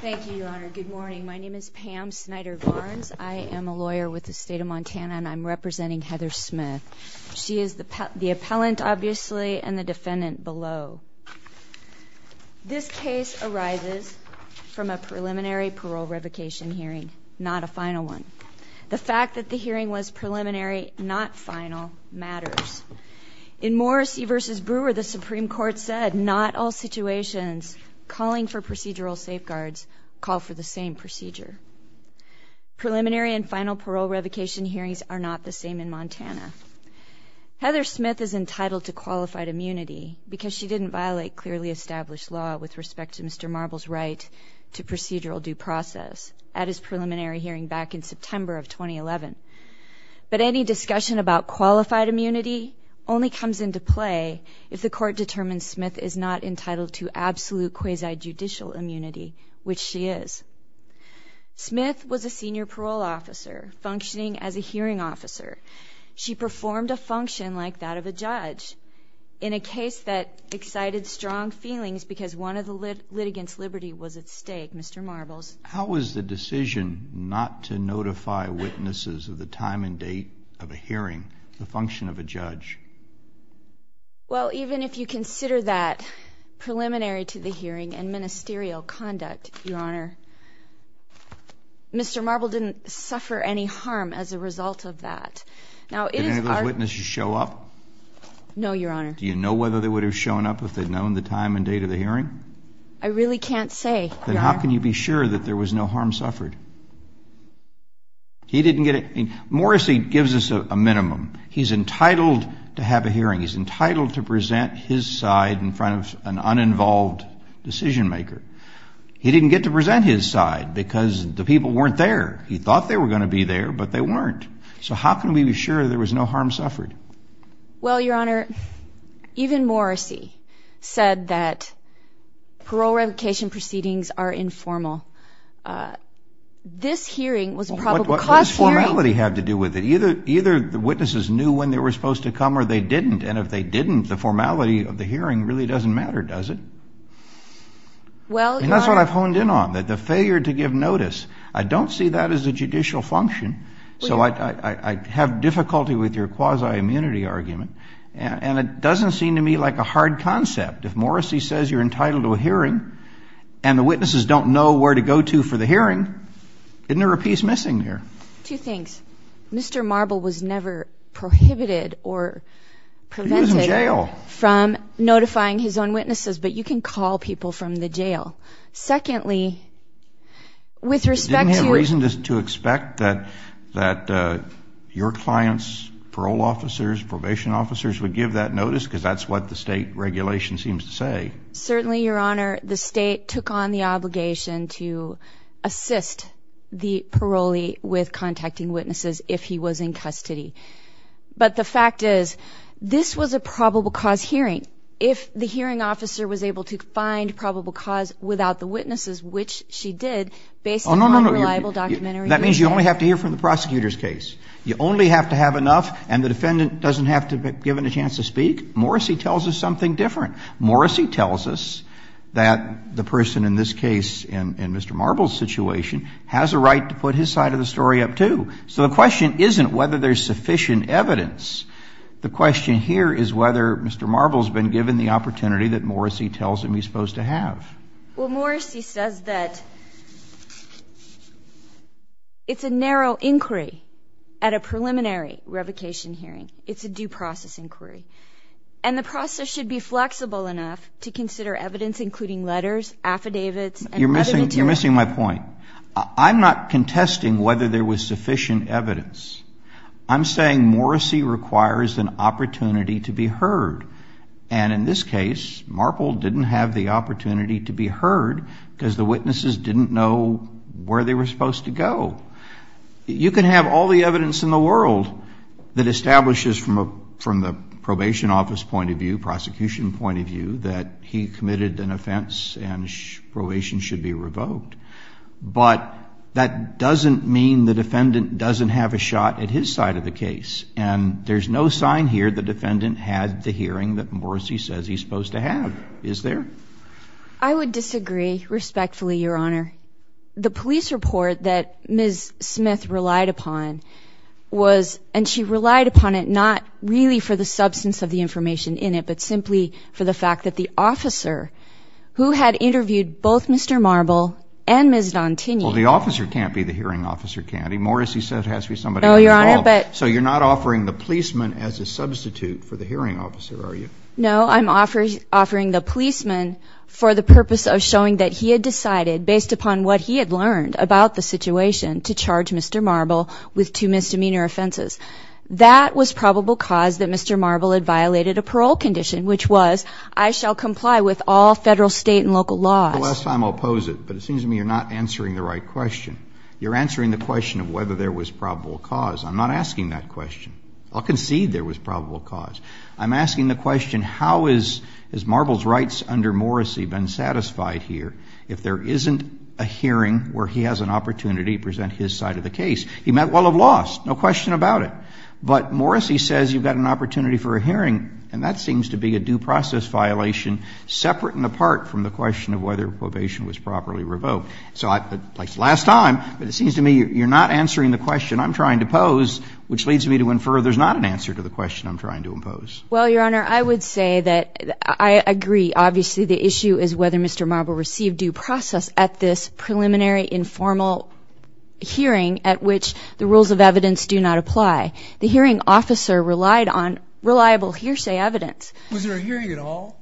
Thank you, Your Honor. Good morning. My name is Pam Snyder Varnes. I am a lawyer with the State of Montana, and I'm representing Heather Smith. She is the appellant, obviously, and the defendant below. This case arises from a preliminary parole revocation hearing, not a final one. The fact that the hearing was preliminary, not final, matters. In Morrissey v. Brewer, the Supreme Court said, not all situations calling for procedural safeguards call for the same procedure. Preliminary and final parole revocation hearings are not the same in Montana. Heather Smith is entitled to qualified immunity because she didn't violate clearly established law with respect to Mr. Marble's right to procedural due process at his preliminary hearing back in September of 2011. But any discussion about qualified immunity only comes into play if the court determines Smith is not entitled to absolute quasi-judicial immunity, which she is. Smith was a senior parole officer, functioning as a hearing officer. She performed a function like that of a judge in a case that excited strong feelings because one of the litigants' liberty was at stake, Mr. Marble's. How is the decision not to notify witnesses of the time and date of a hearing the function of a judge? Well, even if you consider that preliminary to the hearing and ministerial conduct, Your Honor, Mr. Marble didn't suffer any harm as a result of that. Did any of those witnesses show up? No, Your Honor. Do you know whether they would have shown up if they'd known the time and date of the hearing? I really can't say, Your Honor. Then how can you be sure that there was no harm suffered? He didn't get it. Morrissey gives us a minimum. He's entitled to have a hearing. He's entitled to present his side in front of an uninvolved decision-maker. He didn't get to present his side because the people weren't there. He thought they were going to be there, but they weren't. So how can we be sure there was no harm suffered? Well, Your Honor, even Morrissey said that parole revocation proceedings are informal. This hearing was a probable cause hearing. What does formality have to do with it? Either the witnesses knew when they were supposed to come or they didn't, and if they didn't, the formality of the hearing really doesn't matter, does it? Well, Your Honor. And that's what I've honed in on, that the failure to give notice. I don't see that as a judicial function. So I have difficulty with your quasi-immunity argument, and it doesn't seem to me like a hard concept. If Morrissey says you're entitled to a hearing and the witnesses don't know where to go to for the hearing, isn't there a piece missing there? Two things. Mr. Marble was never prohibited or prevented from notifying his own witnesses, but you can call people from the jail. Secondly, with respect to your... You didn't have reason to expect that your clients, parole officers, probation officers, would give that notice because that's what the state regulation seems to say. Certainly, Your Honor, the state took on the obligation to assist the parolee with contacting witnesses if he was in custody. But the fact is, this was a probable cause hearing. If the hearing officer was able to find probable cause without the witnesses, which she did, based on unreliable documentary evidence... Oh, no, no. That means you only have to hear from the prosecutor's case. You only have to have enough, and the defendant doesn't have to be given a chance to speak. Morrissey tells us something different. Morrissey tells us that the person in this case, in Mr. Marble's situation, has a right to put his side of the story up, too. So the question isn't whether there's sufficient evidence. The question here is whether Mr. Marble's been given the opportunity that Morrissey tells him he's supposed to have. Well, Morrissey says that it's a narrow inquiry at a preliminary revocation hearing. It's a due process inquiry. And the process should be flexible enough to consider evidence including letters, affidavits, and other material. You're missing my point. I'm not contesting whether there was sufficient evidence. I'm saying Morrissey requires an opportunity to be heard. And in this case, Marble didn't have the opportunity to be heard because the witnesses didn't know where they were supposed to go. You can have all the evidence in the world that establishes from the probation office point of view, prosecution point of view, that he committed an offense and probation should be revoked. But that doesn't mean the defendant doesn't have a shot at his side of the case. And there's no sign here the defendant had the hearing that Morrissey says he's supposed to have. Is there? I would disagree respectfully, Your Honor. The police report that Ms. Smith relied upon was, and she relied upon it not really for the substance of the information in it, but simply for the fact that the officer who had interviewed both Mr. Marble and Ms. Dantigny. Well, the officer can't be the hearing officer, can he? Morrissey said it has to be somebody who was involved. So you're not offering the policeman as a substitute for the hearing officer, are you? No, I'm offering the policeman for the purpose of showing that he had decided, based upon what he had learned about the situation, to charge Mr. Marble with two misdemeanor offenses. That was probable cause that Mr. Marble had violated a parole condition, which was, I shall comply with all Federal, State, and local laws. The last time I'll pose it, but it seems to me you're not answering the right question. You're answering the question of whether there was probable cause. I'm not asking that question. I'll concede there was probable cause. I'm asking the question, how has Marble's rights under Morrissey been satisfied here if there isn't a hearing where he has an opportunity to present his side of the case? He might well have lost, no question about it. But Morrissey says you've got an opportunity for a hearing, and that seems to be a due process violation separate and apart from the question of whether probation was properly revoked. So, like last time, but it seems to me you're not answering the question I'm trying to pose, which leads me to infer there's not an answer to the question I'm trying to impose. Well, Your Honor, I would say that I agree. Obviously, the issue is whether Mr. Marble received due process at this preliminary, informal hearing at which the rules of evidence do not apply. The hearing officer relied on reliable hearsay evidence. Was there a hearing at all?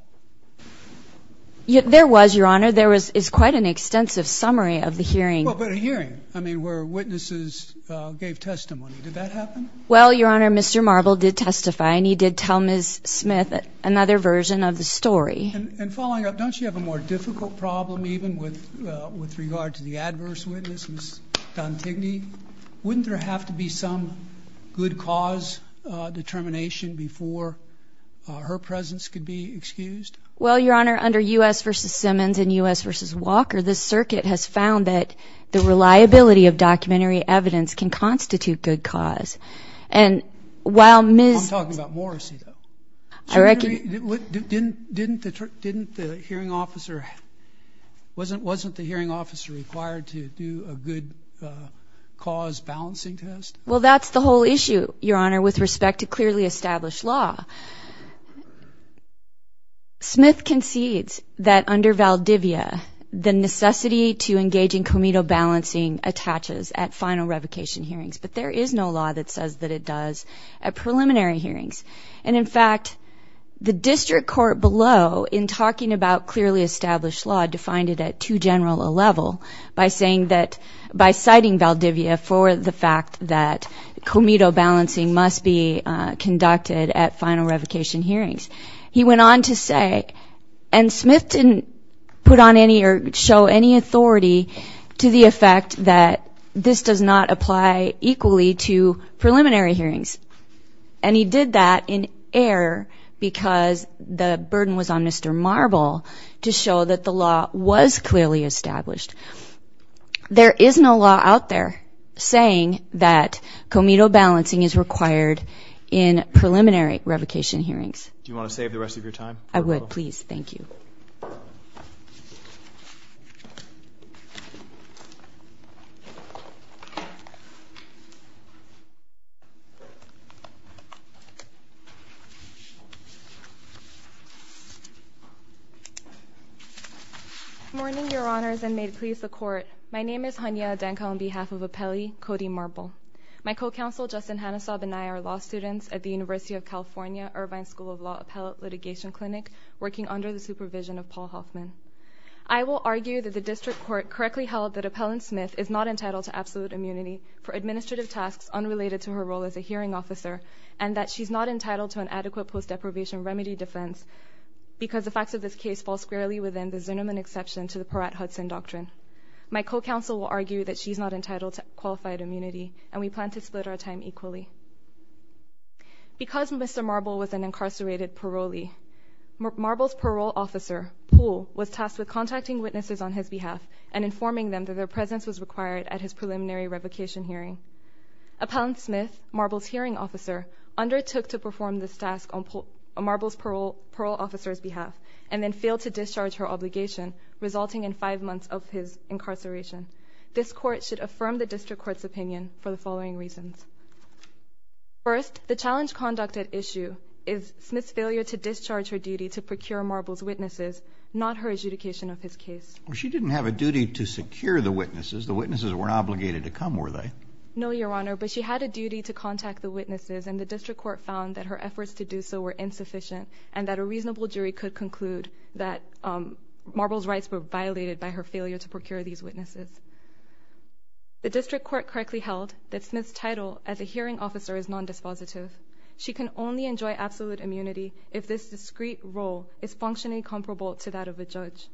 There was, Your Honor. There is quite an extensive summary of the hearing. Well, but a hearing, I mean, where witnesses gave testimony. Did that happen? Well, Your Honor, Mr. Marble did testify, and he did tell Ms. Smith another version of the story. And following up, don't you have a more difficult problem even with regard to the adverse witness, Ms. Dantigny? Wouldn't there have to be some good cause determination before her presence could be excused? Well, Your Honor, under U.S. v. Simmons and U.S. v. Walker, this circuit has found that the reliability of documentary evidence can constitute good cause. I'm talking about Morrissey, though. Didn't the hearing officer, wasn't the hearing officer required to do a good cause balancing test? Well, that's the whole issue, Your Honor, with respect to clearly established law. Smith concedes that under Valdivia, the necessity to engage in comito balancing attaches at final revocation hearings. But there is no law that says that it does at preliminary hearings. And, in fact, the district court below, in talking about clearly established law, defined it at too general a level by saying that, by citing Valdivia for the fact that comito balancing must be conducted at final revocation hearings. He went on to say, and Smith didn't put on any or show any authority to the effect that this does not apply equally to preliminary hearings. And he did that in error because the burden was on Mr. Marble to show that the law was clearly established. There is no law out there saying that comito balancing is required in preliminary revocation hearings. Do you want to save the rest of your time? I would, please. Thank you. Good morning, Your Honors, and may it please the Court. My name is Hania Adanko on behalf of Appellee Cody Marble. My co-counsel, Justin Hanusab, and I are law students at the University of California Irvine School of Law Appellate Litigation Clinic, working under the supervision of Paul Hoffman. I will argue that the district court correctly held that Appellant Smith is not entitled to absolute immunity for administrative tasks unrelated to her role as a hearing officer and that she's not entitled to an adequate post-deprivation remedy defense because the facts of this case fall squarely within the Zunerman exception to the Peratt-Hudson Doctrine. My co-counsel will argue that she's not entitled to qualified immunity, and we plan to split our time equally. Because Mr. Marble was an incarcerated parolee, Marble's parole officer, Poole, was tasked with contacting witnesses on his behalf and informing them that their presence was required at his preliminary revocation hearing. Appellant Smith, Marble's hearing officer, undertook to perform this task on Marble's parole officer's behalf and then failed to discharge her obligation, resulting in five months of his incarceration. This court should affirm the district court's opinion for the following reasons. First, the challenge conducted issue is Smith's failure to discharge her duty to procure Marble's witnesses, not her adjudication of his case. Well, she didn't have a duty to secure the witnesses. The witnesses weren't obligated to come, were they? No, Your Honor, but she had a duty to contact the witnesses, and the district court found that her efforts to do so were insufficient and that a reasonable jury could conclude that Marble's rights were violated by her failure to procure these witnesses. The district court correctly held that Smith's title as a hearing officer is non-dispositive. She can only enjoy absolute immunity if this discrete role is functionally comparable to that of a judge.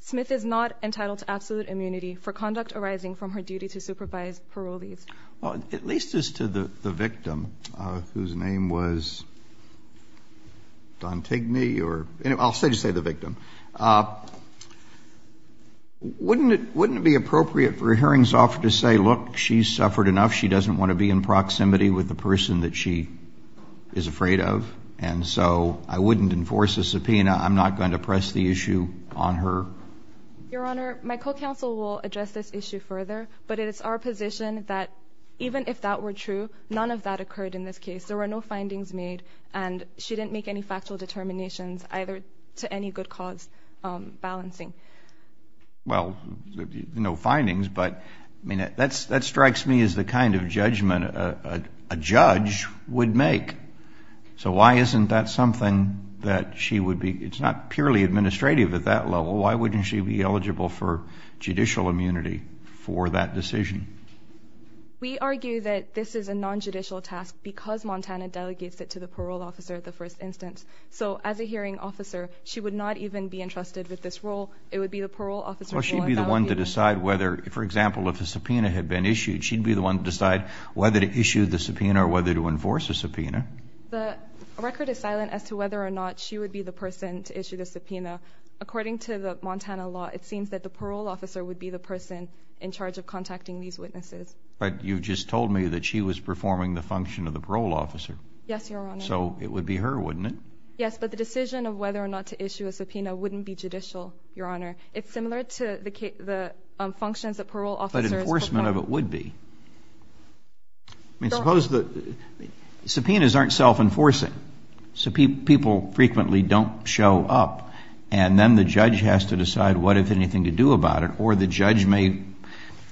Smith is not entitled to absolute immunity for conduct arising from her duty to supervise parolees. Well, at least as to the victim, whose name was Dantigny or anyway, I'll just say the victim, wouldn't it be appropriate for a hearings officer to say, look, she's suffered enough, she doesn't want to be in proximity with the person that she is afraid of, and so I wouldn't enforce a subpoena, I'm not going to press the issue on her. Your Honor, my co-counsel will address this issue further, but it is our position that even if that were true, none of that occurred in this case. There were no findings made, and she didn't make any factual determinations either to any good cause balancing. Well, no findings, but that strikes me as the kind of judgment a judge would make. So why isn't that something that she would be, it's not purely administrative at that level, why wouldn't she be eligible for judicial immunity for that decision? We argue that this is a non-judicial task because Montana delegates it to the parole officer at the first instance. So as a hearing officer, she would not even be entrusted with this role, it would be the parole officer's role. Well, she'd be the one to decide whether, for example, if a subpoena had been issued, she'd be the one to decide whether to issue the subpoena or whether to issue the subpoena. The record is silent as to whether or not she would be the person to issue the subpoena. According to the Montana law, it seems that the parole officer would be the person in charge of contacting these witnesses. But you just told me that she was performing the function of the parole officer. Yes, Your Honor. So it would be her, wouldn't it? Yes, but the decision of whether or not to issue a subpoena wouldn't be judicial, Your Honor. It's similar to the functions that parole officers perform. But enforcement of it would be. I mean, suppose the subpoenas aren't self-enforcing. So people frequently don't show up. And then the judge has to decide what, if anything, to do about it. Or the judge may,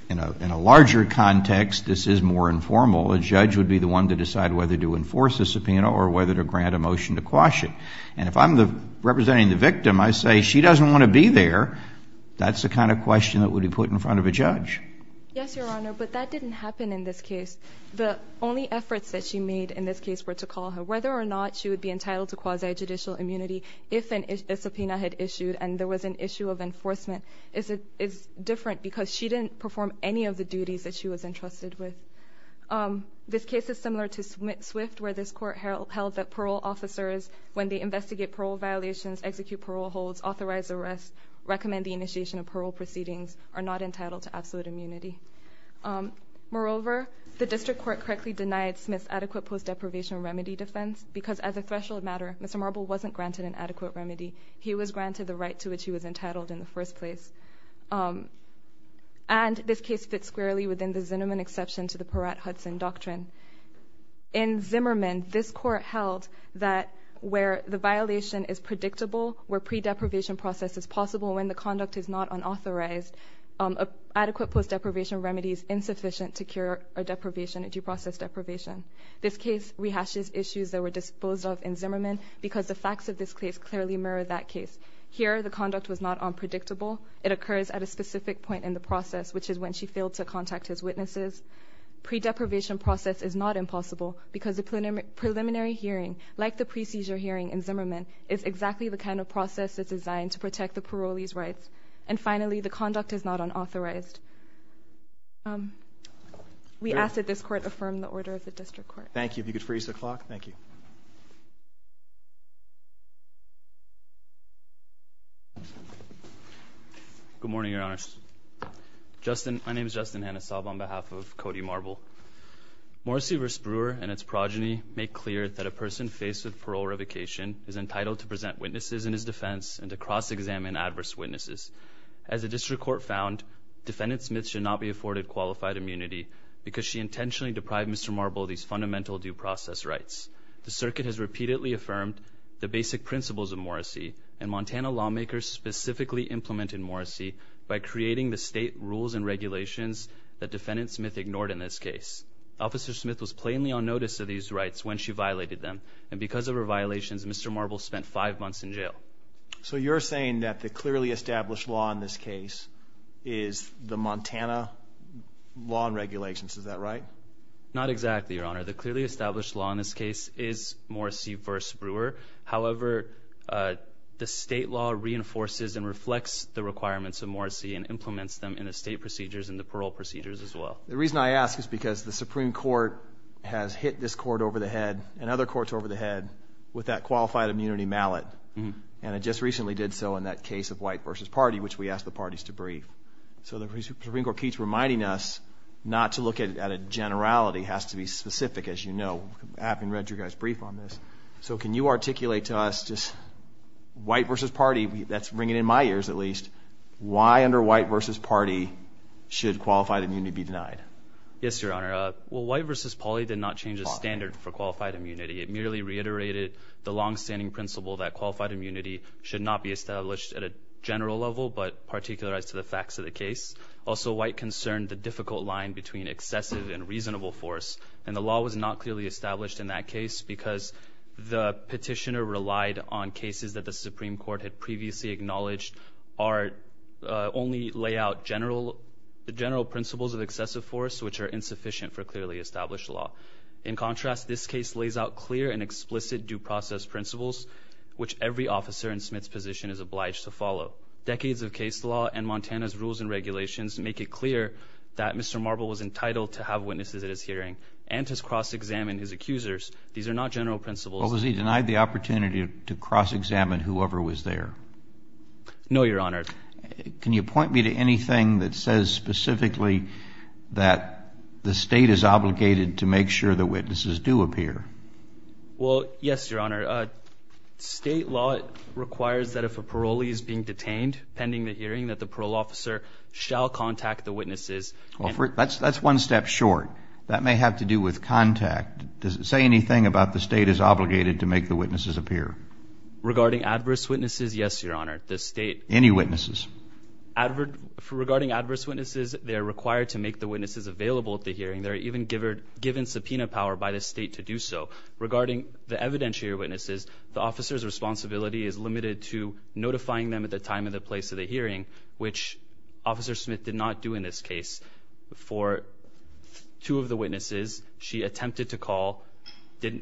in a larger context, this is more informal, a judge would be the one to decide whether to enforce a subpoena or whether to grant a motion to quash it. And if I'm representing the victim, I say she doesn't want to be there, that's the kind of question that would be put in front of a judge. Yes, Your Honor. But that didn't happen in this case. The only efforts that she made in this case were to call her. Whether or not she would be entitled to quasi-judicial immunity if a subpoena had issued and there was an issue of enforcement is different because she didn't perform any of the duties that she was entrusted with. This case is similar to Swift where this court held that parole officers, when they investigate parole violations, execute parole holds, authorize arrests, recommend the initiation of parole proceedings, are not entitled to absolute immunity. Moreover, the district court correctly denied Smith's adequate post-deprivation remedy defense because as a threshold matter, Mr. Marble wasn't granted an adequate remedy. He was granted the right to which he was entitled in the first place. And this case fits squarely within the Zimmerman exception to the Peratt-Hudson doctrine. In Zimmerman, this court held that where the violation is predictable, where pre-deprivation process is possible when the conduct is not unauthorized, adequate post-deprivation remedy is insufficient to cure a deprivation, a due process deprivation. This case rehashes issues that were disposed of in Zimmerman because the facts of this case clearly mirror that case. Here, the conduct was not unpredictable. It occurs at a specific point in the process, which is when she failed to contact his witnesses. Pre-deprivation process is not impossible because the preliminary hearing, like the pre-seizure hearing in Zimmerman, is exactly the kind of process that's designed to protect the parolee's rights. And finally, the conduct is not unauthorized. We ask that this court affirm the order of the district court. Thank you. If you could freeze the clock. Thank you. Good morning, Your Honors. My name is Justin Hanisov on behalf of Cody Marble. Morrissey v. Brewer and its progeny make clear that a person faced with parole revocation is entitled to present witnesses in his defense and to cross-examine adverse witnesses. As the district court found, Defendant Smith should not be afforded qualified immunity because she intentionally deprived Mr. Marble of these fundamental due process rights. The circuit has repeatedly affirmed the basic principles of Morrissey, and Montana lawmakers specifically implemented Morrissey by creating the state rules and regulations that Defendant Smith ignored in this case. Officer Smith was plainly on notice of these rights when she violated them, and because of her violations, Mr. Marble spent five months in jail. So you're saying that the clearly established law in this case is the Montana law and regulations. Is that right? Not exactly, Your Honor. The clearly established law in this case is Morrissey v. Brewer. However, the state law reinforces and reflects the requirements of Morrissey and implements them in the state procedures and the parole procedures as well. The reason I ask is because the Supreme Court has hit this court over the head and other courts over the head with that qualified immunity mallet, and it just recently did so in that case of White v. Party, which we asked the parties to brief. So the Supreme Court keeps reminding us not to look at a generality. It has to be specific, as you know. I haven't read your guys' brief on this. So can you articulate to us just White v. Party, that's ringing in my ears at least, why under White v. Party should qualified immunity be denied? Yes, Your Honor. Well, White v. Party did not change the standard for qualified immunity. It merely reiterated the longstanding principle that qualified immunity should not be established at a general level but particularized to the facts of the case. Also, White concerned the difficult line between excessive and reasonable force, and the law was not clearly established in that case because the petitioner relied on cases that the Supreme Court had previously acknowledged only lay out general principles of excessive force, which are insufficient for clearly established law. In contrast, this case lays out clear and explicit due process principles, which every officer in Smith's position is obliged to follow. Decades of case law and Montana's rules and regulations make it clear that Mr. Marble was entitled to have witnesses at his hearing and to cross-examine his accusers. These are not general principles. Was he denied the opportunity to cross-examine whoever was there? No, Your Honor. Can you point me to anything that says specifically that the State is obligated to make sure the witnesses do appear? Well, yes, Your Honor. State law requires that if a parolee is being detained pending the hearing, that the parole officer shall contact the witnesses. That's one step short. That may have to do with contact. Does it say anything about the State is obligated to make the witnesses appear? Regarding adverse witnesses, yes, Your Honor. Any witnesses? Regarding adverse witnesses, they are required to make the witnesses available at the hearing. They are even given subpoena power by the State to do so. Regarding the evidentiary witnesses, the officer's responsibility is limited to notifying them at the time and the place of the hearing, which Officer Smith did not do in this case. For two of the witnesses, she attempted to call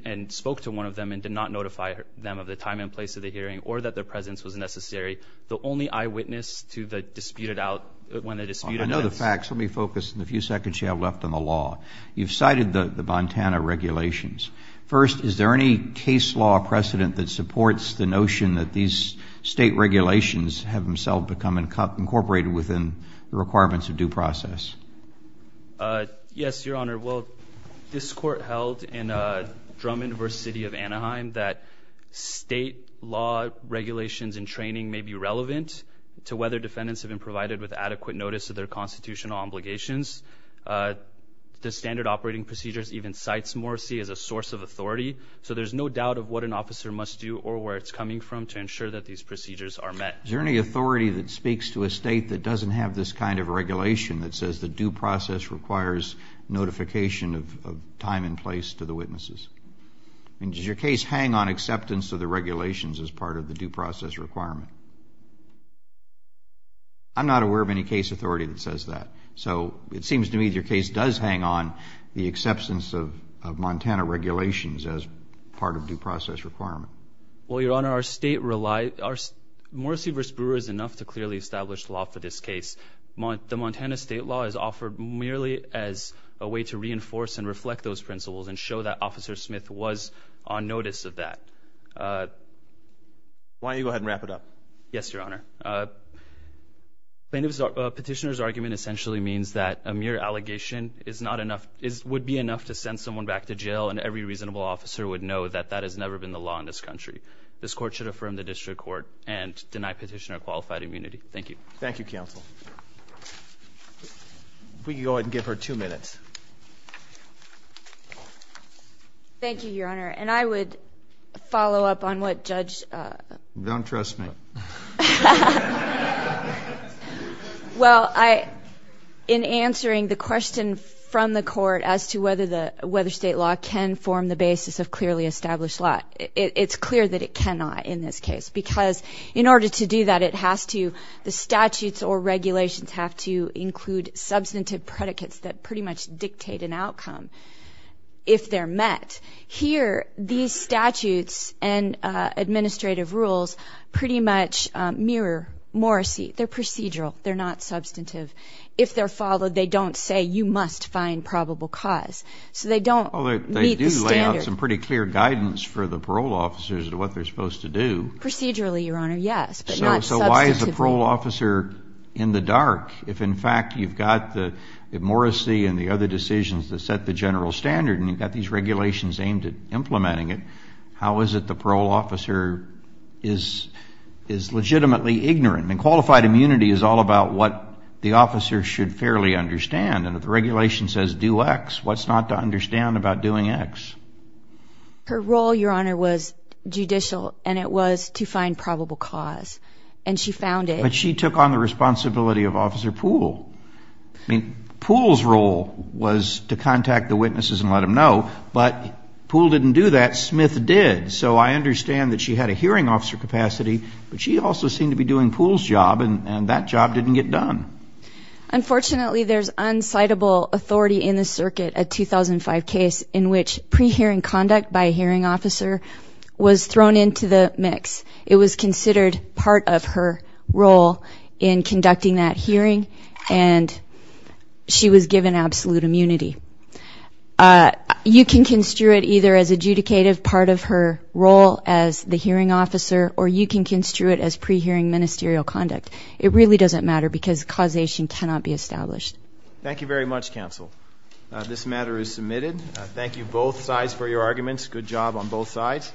and spoke to one of them and did not notify them of the time and place of the hearing or that their presence was necessary. The only eyewitness to dispute it out when the dispute ends. I know the facts. Let me focus in the few seconds you have left on the law. You've cited the Montana regulations. First, is there any case law precedent that supports the notion that these State regulations have themselves become incorporated within the requirements of due process? Yes, Your Honor. Well, this Court held in Drummond v. City of Anaheim that State law regulations and training may be relevant to whether defendants have been provided with adequate notice of their constitutional obligations. The standard operating procedures even cites morse as a source of authority, so there's no doubt of what an officer must do or where it's coming from to ensure that these procedures are met. Is there any authority that speaks to a State that doesn't have this kind of regulation that says the due process requires notification of time and place to the witnesses? Does your case hang on acceptance of the regulations as part of the due process requirement? I'm not aware of any case authority that says that. So it seems to me that your case does hang on the acceptance of Montana regulations as part of due process requirement. Well, Your Honor, our State relies... Morrissey v. Brewer is enough to clearly establish the law for this case. The Montana State law is offered merely as a way to reinforce and reflect those principles and show that Officer Smith was on notice of that. Why don't you go ahead and wrap it up? Yes, Your Honor. Plaintiff's petitioner's argument essentially means that a mere allegation would be enough to send someone back to jail, and every reasonable officer would know that that has never been the law in this country. This court should affirm the district court and deny petitioner qualified immunity. Thank you. Thank you, counsel. If we could go ahead and give her two minutes. Thank you, Your Honor. And I would follow up on what Judge... Don't trust me. Well, in answering the question from the court as to whether State law can form the basis of clearly established law, it's clear that it cannot in this case because in order to do that, the statutes or regulations have to include substantive predicates that pretty much dictate an outcome if they're met. Here, these statutes and administrative rules pretty much mirror Morrisey. They're procedural. They're not substantive. If they're followed, they don't say you must find probable cause. So they don't meet the standards. Well, they do lay out some pretty clear guidance for the parole officers as to what they're supposed to do. Procedurally, Your Honor, yes, but not substantively. So why is the parole officer in the dark if, in fact, you've got Morrisey and the other decisions that set the general standard, and you've got these regulations aimed at implementing it, how is it the parole officer is legitimately ignorant? I mean, qualified immunity is all about what the officer should fairly understand, and if the regulation says do X, what's not to understand about doing X? Her role, Your Honor, was judicial, and it was to find probable cause, and she found it. But she took on the responsibility of Officer Poole. I mean, Poole's role was to contact the witnesses and let them know, but Poole didn't do that. Smith did. So I understand that she had a hearing officer capacity, but she also seemed to be doing Poole's job, and that job didn't get done. Unfortunately, there's unsightable authority in the circuit, a 2005 case, in which pre-hearing conduct by a hearing officer was thrown into the mix. It was considered part of her role in conducting that hearing, and she was given absolute immunity. You can construe it either as adjudicative part of her role as the hearing officer, or you can construe it as pre-hearing ministerial conduct. It really doesn't matter because causation cannot be established. Thank you very much, counsel. This matter is submitted. Thank you, both sides, for your arguments. Good job on both sides.